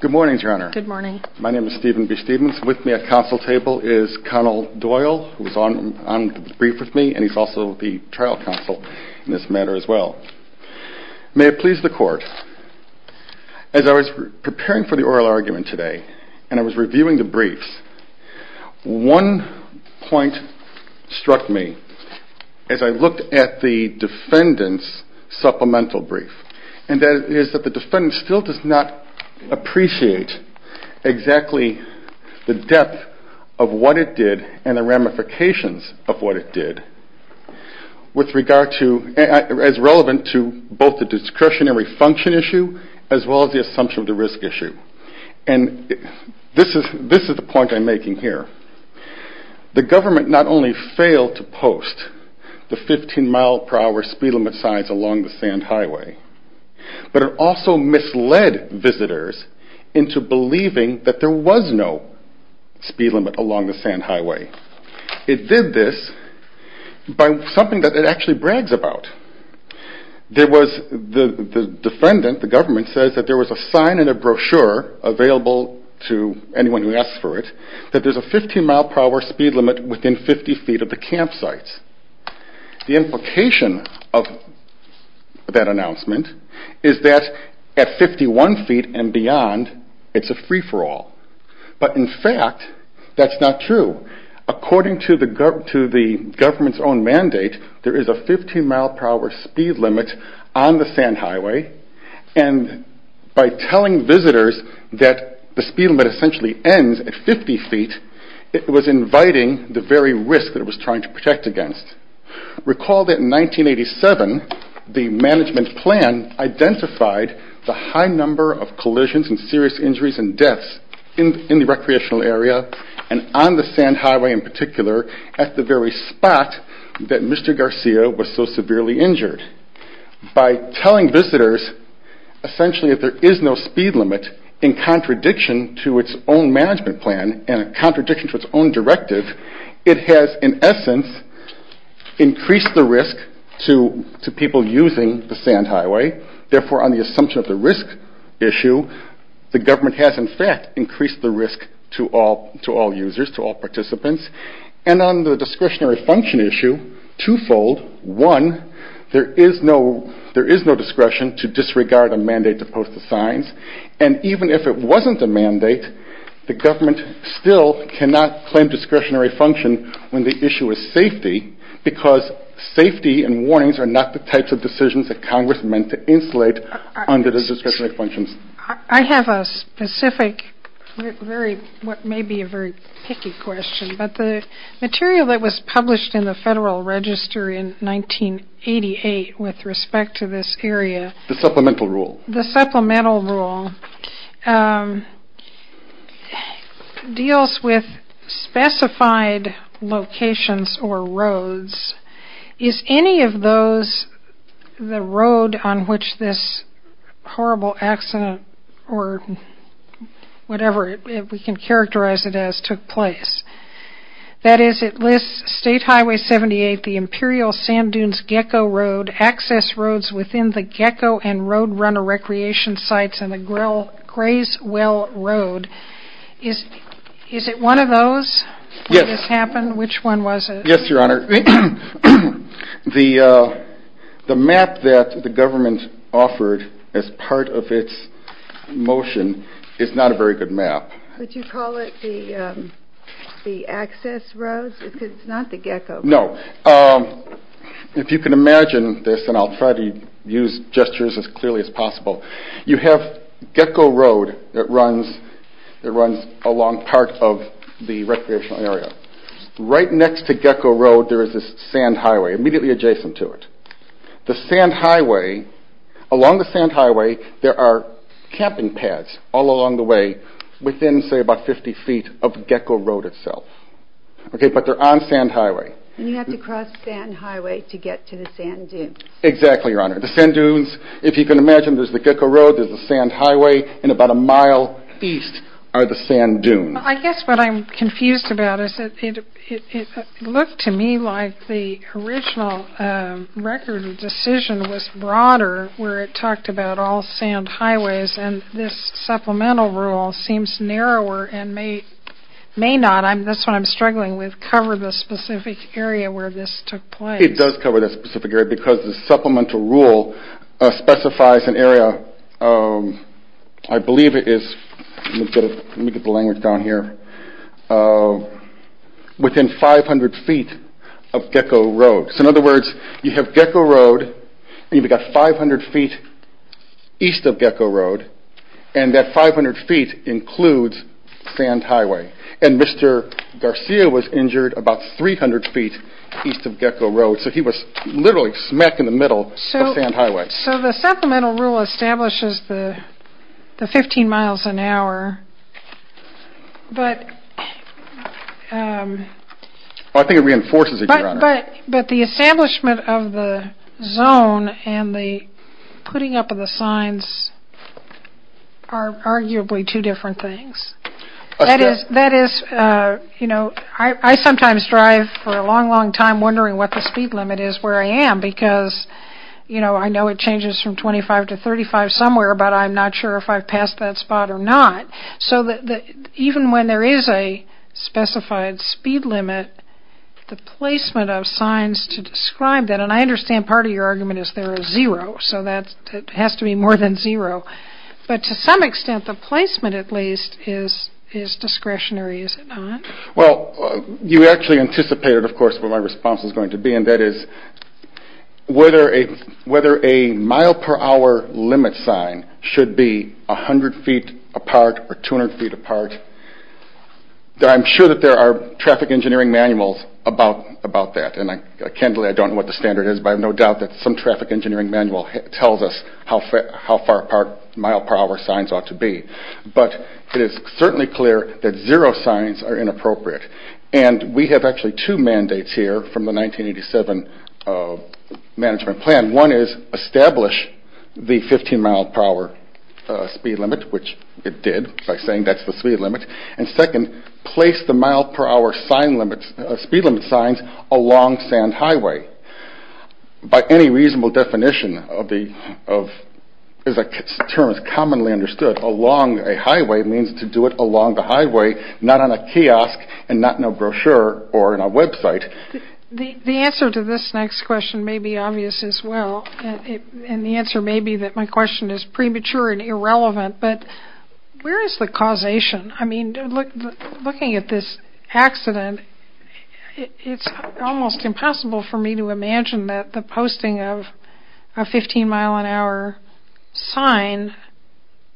Good morning, Your Honor. Good morning. My name is Stephen B. Stephens. With me at counsel table is Colonel Doyle, who is on the brief with me, and he's also the trial counsel in this matter as well. May it please the Court, as I was preparing for the oral argument today and I was reviewing the briefs, one point struck me as I looked at the defendant's supplemental brief, and that is that the defendant still does not appreciate exactly the depth of what it did and the ramifications of what it did, as relevant to both the discretionary function issue as well as the assumption of the risk issue. And this is the point I'm making here. The government not only failed to post the 15 mile per hour speed limit signs along the sand highway, but it also misled visitors into believing that there was no speed limit along the sand highway. It did this by something that it actually brags about. There was, the defendant, the government says that there was a sign in a brochure available to anyone who asked for it, that there's a 15 mile per hour speed limit within 50 feet of the campsites. The implication of that announcement is that at 51 feet and beyond, it's a free for all. But in fact, that's not true. According to the government's own mandate, there is a 15 mile per hour speed limit on the sand highway, and by telling visitors that the speed limit essentially ends at 50 feet, it was inviting the very risk that it was trying to protect against. Recall that in 1987, the management plan identified the high number of collisions and serious injuries and deaths in the recreational area, and on the sand highway in particular, at the very spot that Mr. Garcia was so severely injured. By telling visitors essentially that there is no speed limit in contradiction to its own management plan and a contradiction to its own directive, it has in essence increased the risk to people using the sand highway. Therefore, on the assumption of the risk issue, the government has in fact increased the risk to all users, to all participants, and on the discretionary function issue, twofold. One, there is no discretion to disregard a mandate to post the signs, and even if it wasn't a mandate, the government still cannot claim discretionary function when the issue is safety, because safety and warnings are not the types of decisions that Congress meant to insulate under the discretionary functions. I have a specific, what may be a very picky question, but the material that was published in the Federal Register in 1988 with respect to this area... The Supplemental Rule. The Supplemental Rule deals with specified locations or roads. Is any of those, the road on which this horrible accident, or whatever we can characterize it as, took place? That is, it lists State Highway 78, the Imperial Sand Dunes Gecko Road, access roads within the Gecko and Road Runner Recreation Sites, and the Grays Well Road. Is it one of those where this happened? Which one was it? Yes, Your Honor. The map that the government offered as part of its motion is not a very good map. Would you call it the access roads? Because it's not the Gecko. No. If you can imagine this, and I'll try to use gestures as clearly as possible, you have Gecko Road that runs along part of the recreational area. Right next to Gecko Road there is this sand highway immediately adjacent to it. The sand highway, along the sand highway, there are camping pads all along the way within, say, about 50 feet of Gecko Road itself. Okay, but they're on sand highway. And you have to cross sand highway to get to the sand dunes. Exactly, Your Honor. The sand dunes, if you can imagine, there's the Gecko Road, there's the sand highway, and about a mile east are the sand dunes. I guess what I'm confused about is that it looked to me like the original record of decision was broader, where it talked about all sand highways, and this supplemental rule seems narrower and may not, that's what I'm struggling with, cover the specific area where this took place. It does cover that specific area because the supplemental rule specifies an area, I believe it is, let me get the language down here, within 500 feet of Gecko Road. So in other words, you have Gecko Road, you've got 500 feet east of Gecko Road, and that 500 feet includes sand highway. And Mr. Garcia was injured about 300 feet east of Gecko Road, so he was literally smack in the middle of sand highway. So the supplemental rule establishes the 15 miles an hour, but... But the establishment of the zone and the putting up of the signs are arguably two different things. That is, you know, I sometimes drive for a long, long time wondering what the speed limit is where I am because, you know, I know it changes from 25 to 35 somewhere, but I'm not sure if I've passed that spot or not. So even when there is a specified speed limit, the placement of signs to describe that, and I understand part of your argument is there is zero, so that has to be more than zero, but to some extent the placement at least is discretionary, is it not? Well, you actually anticipated, of course, what my response was going to be, and that is whether a mile per hour limit sign should be 100 feet apart or 200 feet apart. I'm sure that there are traffic engineering manuals about that, and candidly I don't know what the standard is, but I have no doubt that some traffic engineering manual tells us how far apart mile per hour signs ought to be. But it is certainly clear that zero signs are inappropriate, and we have actually two mandates here from the 1987 management plan. One is establish the 15 mile per hour speed limit, which it did by saying that's the speed limit, and second, place the mile per hour speed limit signs along sand highway. By any reasonable definition, as the term is commonly understood, along a highway means to do it along the highway, not on a kiosk and not in a brochure or in a website. The answer to this next question may be obvious as well, and the answer may be that my question is premature and irrelevant, but where is the causation? I mean, looking at this accident, it's almost impossible for me to imagine that the posting of a 15 mile an hour sign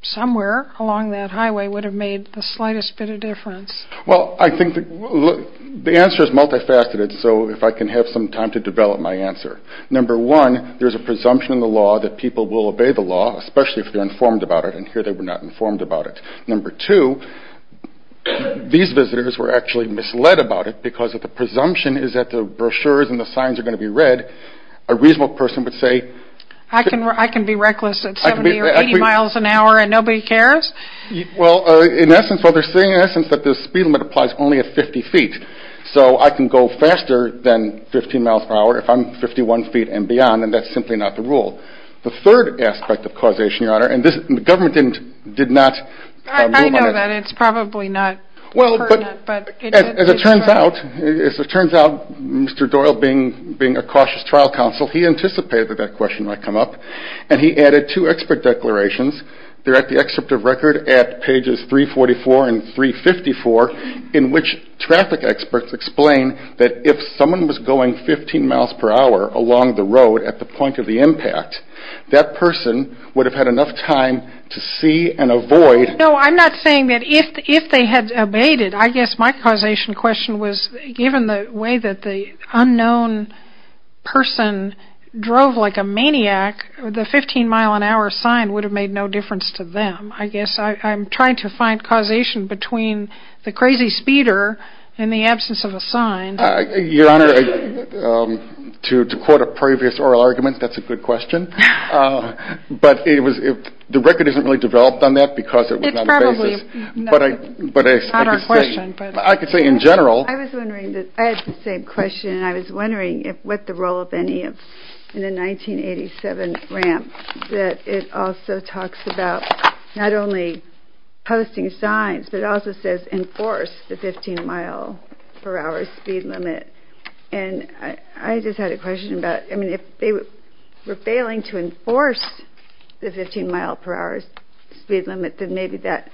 somewhere along that highway would have made the slightest bit of difference. Well, I think the answer is multifaceted, so if I can have some time to develop my answer. Number one, there's a presumption in the law that people will obey the law, especially if they're informed about it, and here they were not informed about it. Number two, these visitors were actually misled about it because of the presumption is that the brochures and the signs are going to be read, a reasonable person would say... I can be reckless at 70 or 80 miles an hour and nobody cares? Well, in essence, what they're saying is that the speed limit applies only at 50 feet, so I can go one feet and beyond, and that's simply not the rule. The third aspect of causation, Your Honor, and the government did not... I know that, it's probably not pertinent, but... Well, as it turns out, Mr. Doyle being a cautious trial counsel, he anticipated that that question might come up, and he added two expert declarations. They're at the excerpt of record at pages 344 and 354 in which traffic experts explain that if someone was going 15 miles per hour along the road at the point of the impact, that person would have had enough time to see and avoid... No, I'm not saying that if they had obeyed it, I guess my causation question was given the way that the unknown person drove like a maniac, the 15 mile an hour sign would have made no difference to them. I guess I'm trying to find causation between the crazy speeder and the absence of a sign. Your Honor, to quote a previous oral argument, that's a good question, but the record isn't really developed on that because it was not a basis, but I could say in general... I was wondering, I had the same question, and I was wondering what the role of any of... ...in the 1987 ramp that it also talks about not only posting signs, but it also says enforce the 15 mile per hour speed limit, and I just had a question about, I mean, if they were failing to enforce the 15 mile per hour speed limit, then maybe that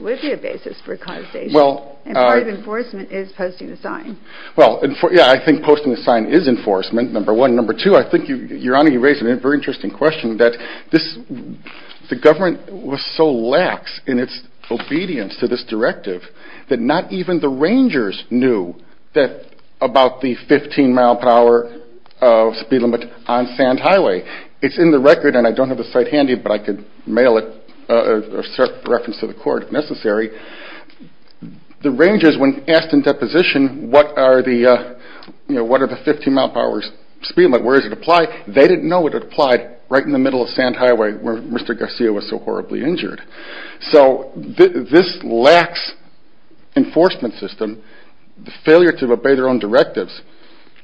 would be a basis for causation, and part of enforcement is posting the sign. Well, yeah, I think posting the sign is enforcement, number one. Number two, I think, Your Honor, you raised a very interesting question, that the government was so lax in its obedience to this directive that not even the rangers knew about the 15 mile per hour speed limit on Sand Highway. It's in the record, and I don't have the site handy, but I could mail it or reference to the court if necessary. The rangers, when asked in deposition, what are the 15 mile per hour speed limit, where does it apply? They didn't know what it applied right in the middle of Sand Highway where Mr. Garcia was so horribly injured. So this lax enforcement system, the failure to obey their own directives,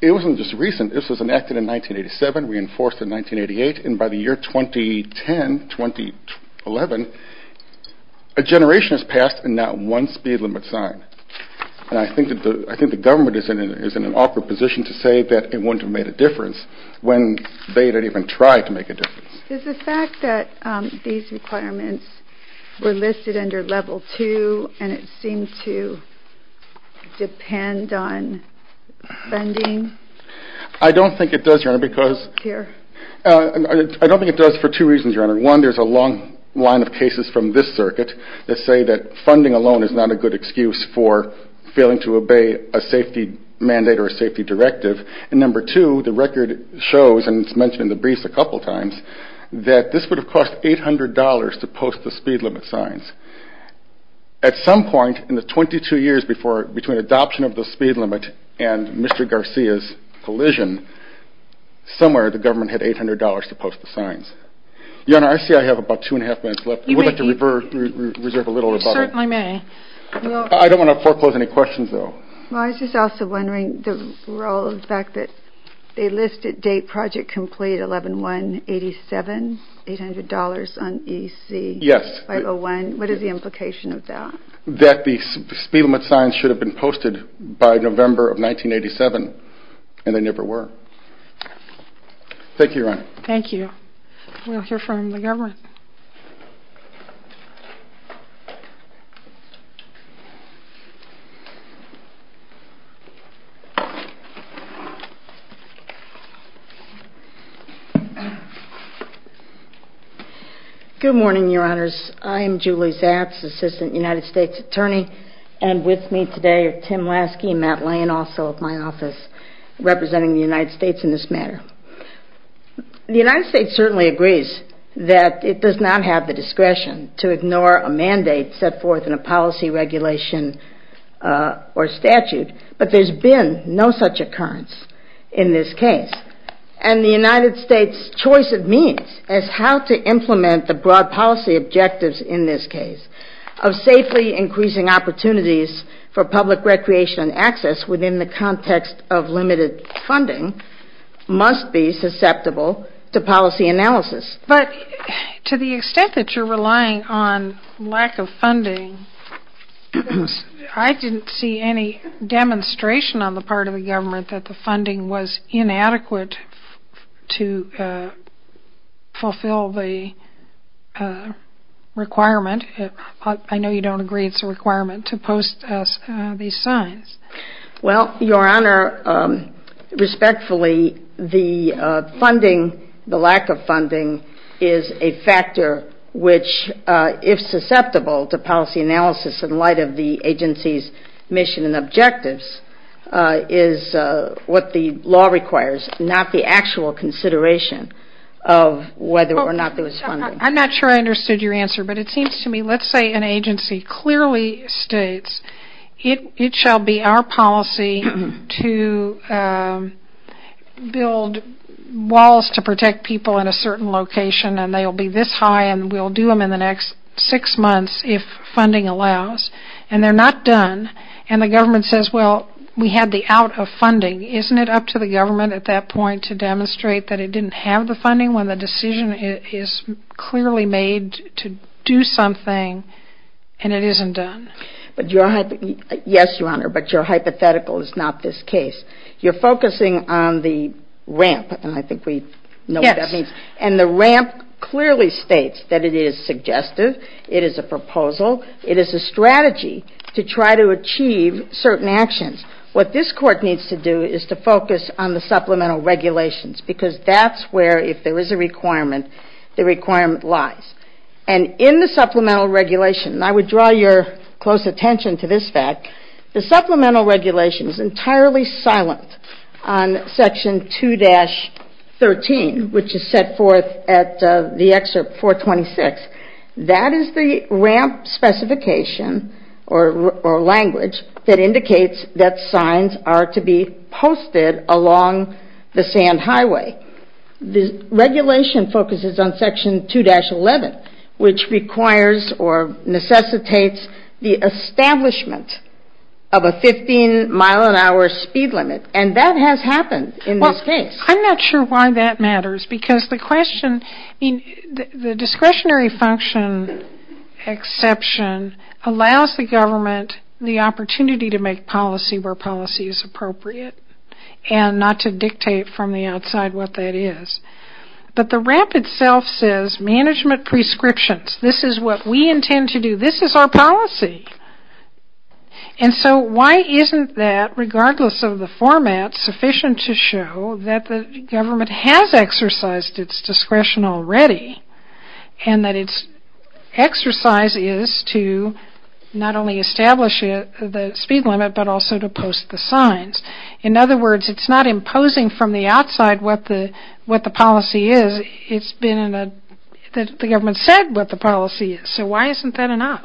it wasn't just recent. This was enacted in 1987, reinforced in 1988, and by the year 2010, 2011, a generation has passed and not one speed limit sign. And I think the government is in an awkward position to say that it wouldn't have made a difference when they didn't even try to make a difference. Is the fact that these requirements were listed under level two and it seemed to depend on funding? I don't think it does, Your Honor, because... Here. I don't think it does for two reasons, Your Honor. One, there's a long line of cases from this circuit that say that funding alone is not a good excuse for failing to obey a safety mandate or a safety directive. And number two, the record shows, and it's mentioned in the briefs a couple times, that this would have cost $800 to post the speed limit signs. At some point in the 22 years between adoption of the speed limit and Mr. Garcia's collision, somewhere the government had $800 to post the signs. Your Honor, I see I have about two and a half minutes left. You may... I would like to reserve a little rebuttal. You certainly may. Well, I was just also wondering the role of the fact that they listed date project complete 11-1-87, $800 on EC 501. Yes. What is the implication of that? That the speed limit signs should have been posted by November of 1987, and they never were. Thank you, Your Honor. Thank you. We'll hear from the government. Good morning, Your Honors. I am Julie Zatz, Assistant United States Attorney, and with me today are Tim Laskey and Matt Lane, also of my office, representing the United States in this matter. The United States certainly agrees that it does not have the discretion to ignore a mandate set forth in a policy regulation or statute, but there's been no such occurrence in this case. And the United States' choice of means as how to implement the broad policy objectives in this case of safely increasing opportunities for public recreation and access within the context of limited funding must be susceptible to policy analysis. But to the extent that you're relying on lack of funding, I didn't see any demonstration on the part of the government that the funding was inadequate to fulfill the requirement. I know you don't agree it's a requirement to post these signs. Well, Your Honor, respectfully, the funding, the lack of funding, is a factor which, if susceptible to policy analysis in light of the agency's mission and objectives, is what the law requires, not the actual consideration of whether or not there was funding. I'm not sure I understood your answer, but it seems to me, let's say an agency clearly states, it shall be our policy to build walls to protect people in a certain location and they'll be this high and we'll do them in the next six months if funding allows. And they're not done, and the government says, well, we had the out of funding, isn't it up to the government at that point to demonstrate that it didn't have the funding when the decision is clearly made to do something and it isn't done? Yes, Your Honor, but your hypothetical is not this case. You're focusing on the ramp, and I think we know what that means. Yes. And the ramp clearly states that it is suggestive, it is a proposal, it is a strategy to try to achieve certain actions. What this court needs to do is to focus on the supplemental regulations because that's where, if there is a requirement, the requirement lies. And in the supplemental regulation, and I would draw your close attention to this fact, the supplemental regulation is entirely silent on section 2-13, which is set forth at the excerpt 426. That is the ramp specification or language that indicates that signs are to be posted along the sand highway. The regulation focuses on section 2-11, which requires or necessitates the establishment of a 15 mile an hour speed limit, and that has happened in this case. I'm not sure why that matters because the discretionary function exception allows the government the opportunity to make policy where policy is appropriate and not to dictate from the outside what that is. But the ramp itself says management prescriptions. This is what we intend to do. This is our policy. And so why isn't that, regardless of the format, sufficient to show that the government has exercised its discretion already, and that its exercise is to not only establish the speed limit but also to post the signs. In other words, it's not imposing from the outside what the policy is, it's been, the government said what the policy is. So why isn't that enough?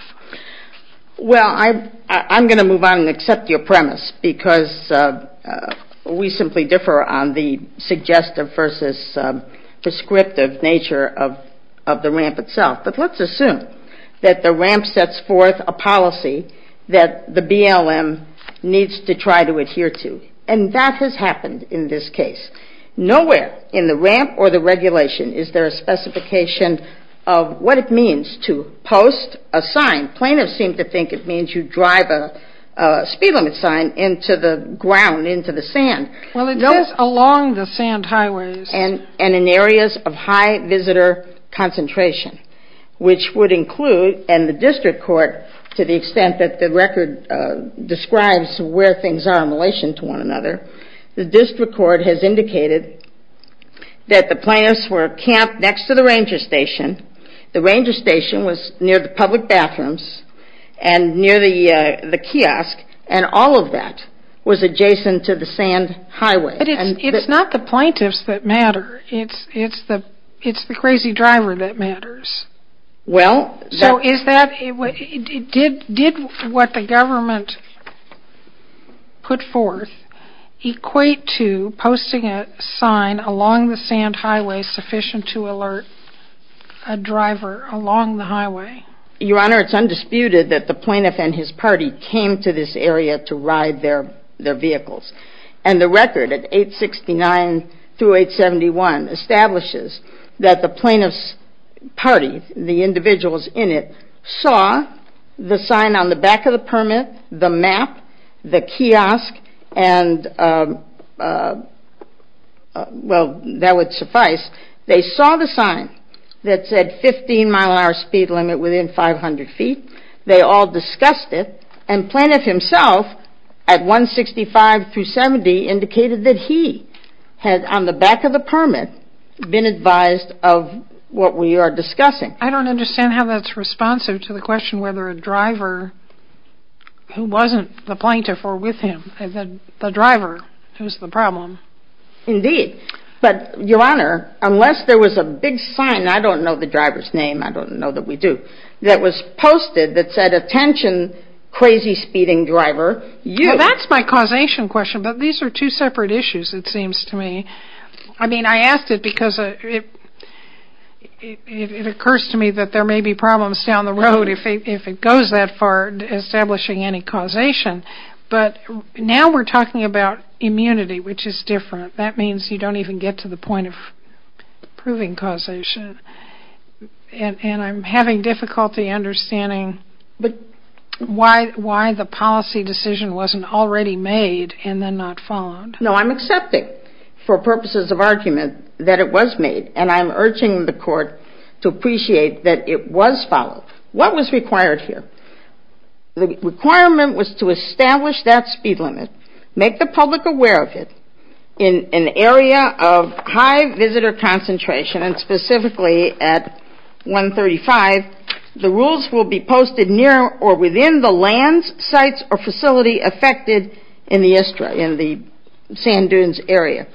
Well, I'm going to move on and accept your premise because we simply differ on the suggestive versus prescriptive nature of the ramp itself. But let's assume that the ramp sets forth a policy that the BLM needs to try to adhere to, and that has happened in this case. Nowhere in the ramp or the regulation is there a specification of what it means to post a sign. Plaintiffs seem to think it means you drive a speed limit sign into the ground, into the sand. Well, it does along the sand highways. And in areas of high visitor concentration, which would include, and the district court, to the extent that the record describes where things are in relation to one another, the district court has indicated that the plaintiffs were camped next to the ranger station, the ranger station was near the public bathrooms, and near the kiosk, and all of that was adjacent to the sand highway. But it's not the plaintiffs that matter, it's the crazy driver that matters. So did what the government put forth equate to posting a sign along the sand highway sufficient to alert a driver along the highway? Your Honor, it's undisputed that the plaintiff and his party came to this area to ride their vehicles. And the record at 869 through 871 establishes that the plaintiff's party, the individuals in it, saw the sign on the back of the permit, the map, the kiosk, and, well, that would suffice. They saw the sign that said 15 mile an hour speed limit within 500 feet, they all discussed it, and plaintiff himself at 165 through 70 indicated that he had, on the back of the permit, been advised of what we are discussing. I don't understand how that's responsive to the question whether a driver who wasn't the plaintiff or with him, the driver, was the problem. Indeed. But, Your Honor, unless there was a big sign, I don't know the driver's name, I don't know that we do, that was posted that said, attention, crazy speeding driver, you. That's my causation question, but these are two separate issues, it seems to me. I mean, I asked it because it occurs to me that there may be problems down the road if it goes that far establishing any causation, but now we're talking about immunity, which is different. That means you don't even get to the point of proving causation, and I'm having difficulty understanding why the policy decision wasn't already made and then not followed. No, I'm accepting for purposes of argument that it was made, and I'm urging the court to appreciate that it was followed. What was required here? The requirement was to establish that speed limit, make the public aware of it, in an area of high visitor concentration, and specifically at 135, the rules will be posted near or within the lands, sites, or facility affected in the sand dunes area.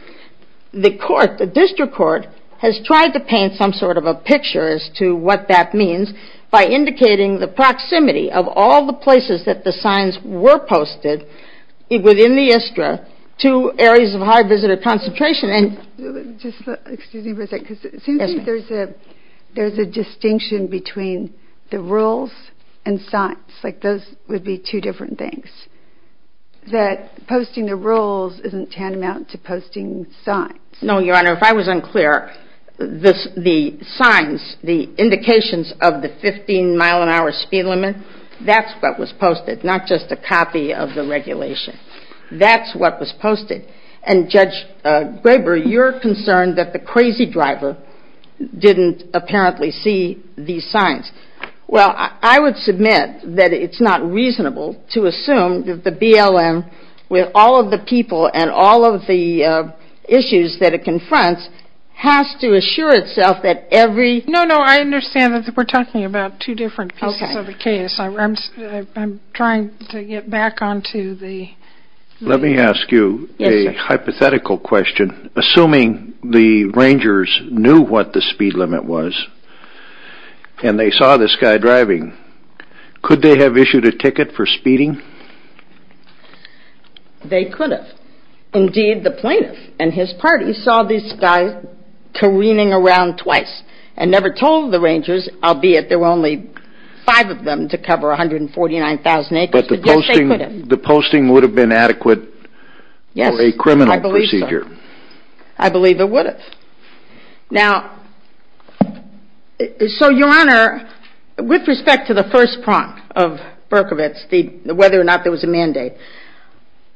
The court, the district court, has tried to paint some sort of a picture as to what that means by indicating the proximity of all the places that the signs were posted within the ISTRA to areas of high visitor concentration. Excuse me for a second, because it seems like there's a distinction between the rules and signs, like those would be two different things, that posting the rules isn't tantamount to posting signs. No, Your Honor, if I was unclear, the signs, the indications of the 15 mile an hour speed limit, that's what was posted, not just a copy of the regulation. That's what was posted. And Judge Graber, you're concerned that the crazy driver didn't apparently see these signs. Well, I would submit that it's not reasonable to assume that the BLM, with all of the people and all of the issues that it confronts, has to assure itself that every... No, no, I understand that we're talking about two different pieces of the case. I'm trying to get back onto the... Let me ask you a hypothetical question. Assuming the rangers knew what the speed limit was, and they saw this guy driving, could they have issued a ticket for speeding? They could have. Indeed, the plaintiff and his party saw this guy careening around twice, and never told the rangers, albeit there were only five of them to cover 149,000 acres, but yes, they could have. But the posting would have been adequate for a criminal procedure. Yes, I believe so. I believe it would have. Now, so Your Honor, with respect to the first prompt of Berkovitz, whether or not there was a mandate,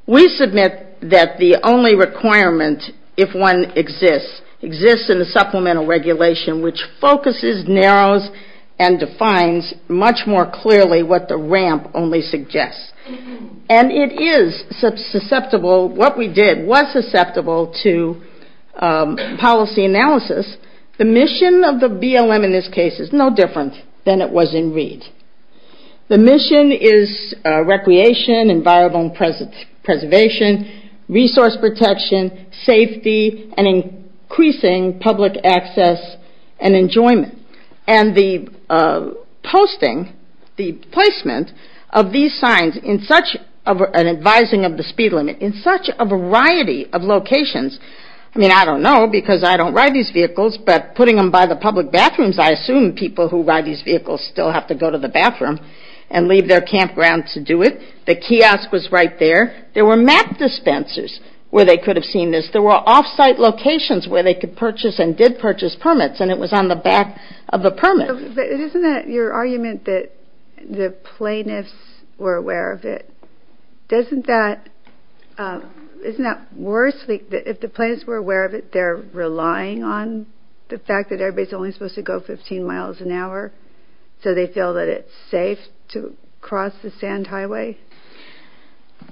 we submit that the only requirement, if one exists, exists in the supplemental regulation which focuses, narrows, and defines much more clearly what the ramp only suggests. And it is susceptible, what we did was susceptible to policy analysis. The mission of the BLM in this case is no different than it was in Reed. The mission is recreation, environmental preservation, resource protection, safety, and increasing public access and enjoyment. And the posting, the placement of these signs in such an advising of the speed limit, in such a variety of locations, I mean, I don't know because I don't ride these vehicles, but putting them by the public bathrooms, I assume people who ride these vehicles still have to go to the bathroom and leave their campground to do it. The kiosk was right there. There were map dispensers where they could have seen this. There were off-site locations where they could purchase and did purchase permits, and it was on the back of the permit. But isn't that your argument that the plaintiffs were aware of it? Doesn't that, isn't that worse? If the plaintiffs were aware of it, they're relying on the fact that everybody's only supposed to go 15 miles an hour, so they feel that it's safe to cross the sand highway?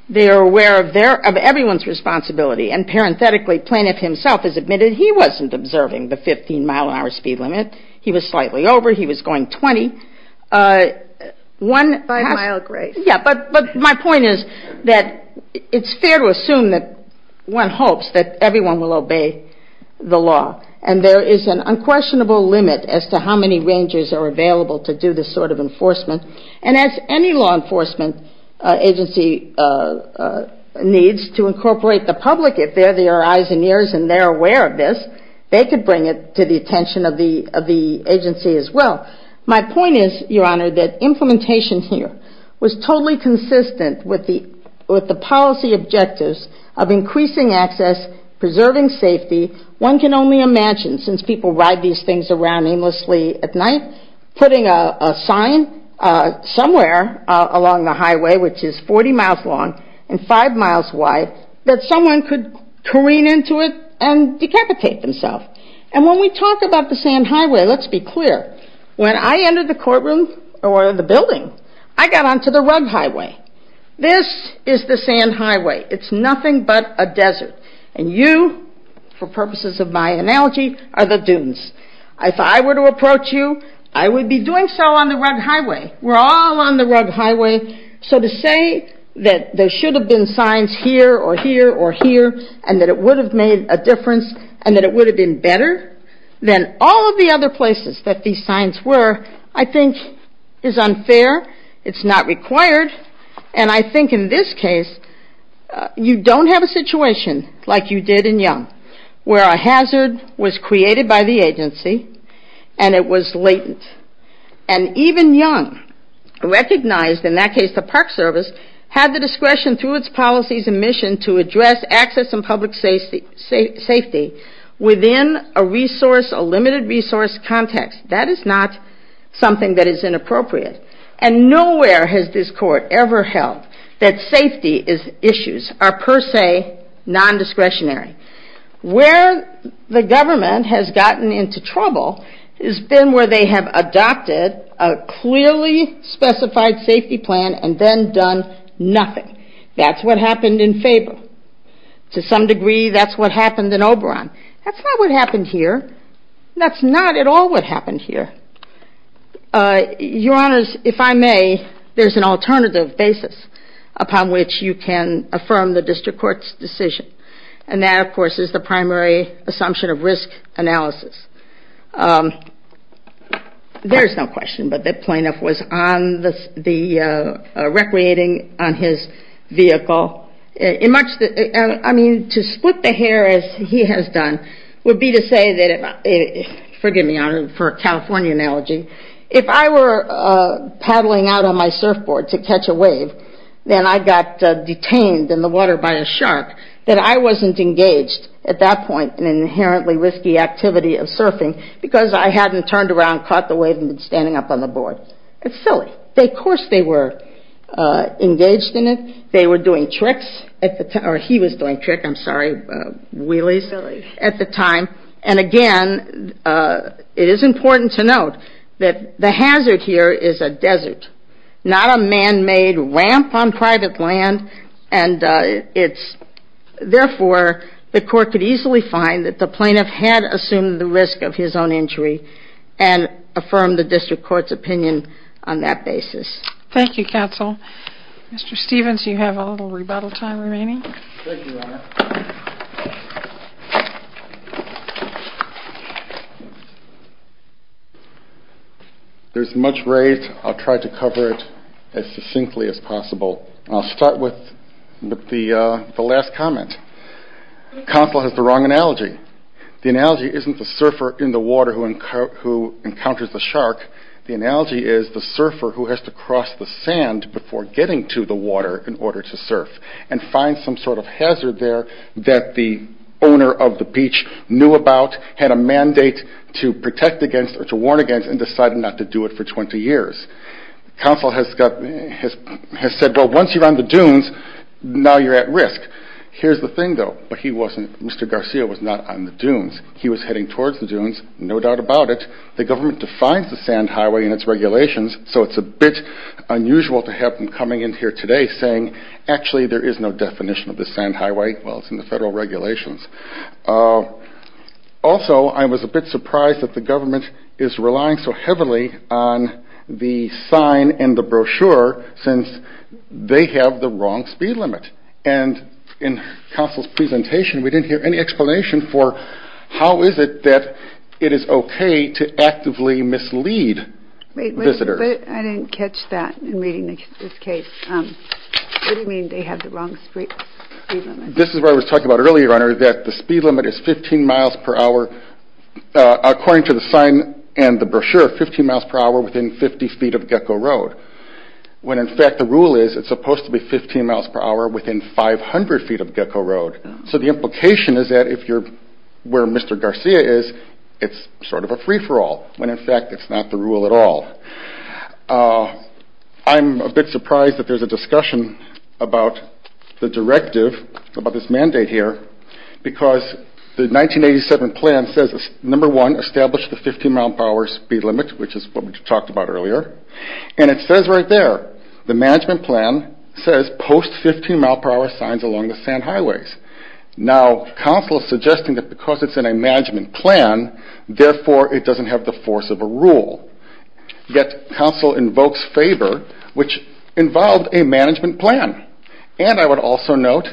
They are aware of everyone's responsibility, and parenthetically, the plaintiff himself has admitted he wasn't observing the 15-mile-an-hour speed limit. He was slightly over. He was going 20. But my point is that it's fair to assume that one hopes that everyone will obey the law, and there is an unquestionable limit as to how many rangers are available to do this sort of enforcement. And as any law enforcement agency needs to incorporate the public, if they're the eyes and ears and they're aware of this, they could bring it to the attention of the agency as well. My point is, Your Honor, that implementation here was totally consistent with the policy objectives of increasing access, preserving safety. One can only imagine, since people ride these things around aimlessly at night, putting a sign somewhere along the highway, which is 40 miles long and 5 miles wide, that someone could careen into it and decapitate themselves. And when we talk about the sand highway, let's be clear. When I entered the courtroom or the building, I got onto the rug highway. This is the sand highway. It's nothing but a desert. And you, for purposes of my analogy, are the dunes. If I were to approach you, I would be doing so on the rug highway. We're all on the rug highway. So to say that there should have been signs here or here or here and that it would have made a difference and that it would have been better than all of the other places that these signs were, I think is unfair. It's not required. And I think in this case, you don't have a situation like you did in Young, where a hazard was created by the agency and it was latent. And even Young recognized, in that case the Park Service, had the discretion through its policies and mission to address access and public safety within a limited resource context. That is not something that is inappropriate. And nowhere has this court ever held that safety issues are per se non-discretionary. Where the government has gotten into trouble has been where they have adopted a clearly specified safety plan and then done nothing. That's what happened in Faber. To some degree, that's what happened in Oberon. That's not what happened here. That's not at all what happened here. Your Honors, if I may, there's an alternative basis upon which you can affirm the district court's decision. And that, of course, is the primary assumption of risk analysis. There's no question, but the plaintiff was recreating on his vehicle. I mean, to split the hair, as he has done, would be to say that, forgive me for a California analogy, if I were paddling out on my surfboard to catch a wave, then I got detained in the water by a shark, that I wasn't engaged at that point in an inherently risky activity of surfing because I hadn't turned around, caught the wave, and been standing up on the board. It's silly. Of course they were engaged in it. They were doing tricks, or he was doing tricks, I'm sorry, wheelies at the time. And again, it is important to note that the hazard here is a desert, not a man-made ramp on private land. Therefore, the court could easily find that the plaintiff had assumed the risk of his own injury and affirm the district court's opinion on that basis. Thank you, counsel. Mr. Stevens, you have a little rebuttal time remaining. Thank you, Your Honor. There's much raised. I'll try to cover it as succinctly as possible. I'll start with the last comment. Counsel has the wrong analogy. The analogy isn't the surfer in the water who encounters the shark. The analogy is the surfer who has to cross the sand before getting to the water and find some sort of hazard there that the owner of the beach knew about, had a mandate to protect against or to warn against, and decided not to do it for 20 years. Counsel has said, well, once you're on the dunes, now you're at risk. Here's the thing, though, Mr. Garcia was not on the dunes. He was heading towards the dunes, no doubt about it. The government defines the sand highway and its regulations, so it's a bit unusual to have him coming in here today saying, actually, there is no definition of the sand highway. Well, it's in the federal regulations. Also, I was a bit surprised that the government is relying so heavily on the sign and the brochure since they have the wrong speed limit. And in counsel's presentation, we didn't hear any explanation for how is it that it is okay to actively mislead visitors. But I didn't catch that in reading this case. What do you mean they have the wrong speed limit? This is what I was talking about earlier, Your Honor, that the speed limit is 15 miles per hour according to the sign and the brochure, 15 miles per hour within 50 feet of Gecko Road, when in fact the rule is it's supposed to be 15 miles per hour within 500 feet of Gecko Road. So the implication is that if you're where Mr. Garcia is, it's sort of a free for all when, in fact, it's not the rule at all. I'm a bit surprised that there's a discussion about the directive about this mandate here because the 1987 plan says number one, establish the 15 miles per hour speed limit, which is what we talked about earlier. And it says right there, the management plan says post 15 miles per hour signs along the sand highways. Now, counsel is suggesting that because it's in a management plan, therefore, it doesn't have the force of a rule. Yet, counsel invokes favor, which involved a management plan. And I would also note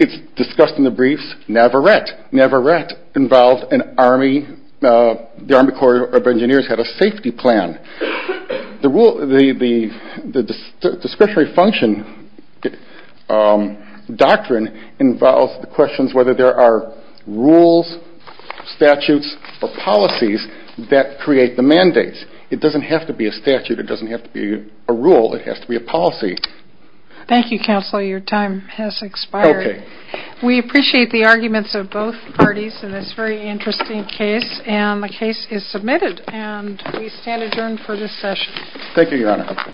it's discussed in the briefs, Navarette. Navarette involved an Army, the Army Corps of Engineers had a safety plan. The discretionary function doctrine involves the questions whether there are rules, statutes, or policies that create the mandates. It doesn't have to be a statute. It doesn't have to be a rule. It has to be a policy. Thank you, counsel. Your time has expired. We appreciate the arguments of both parties in this very interesting case, and the case is submitted, and we stand adjourned for this session. Thank you, Your Honor.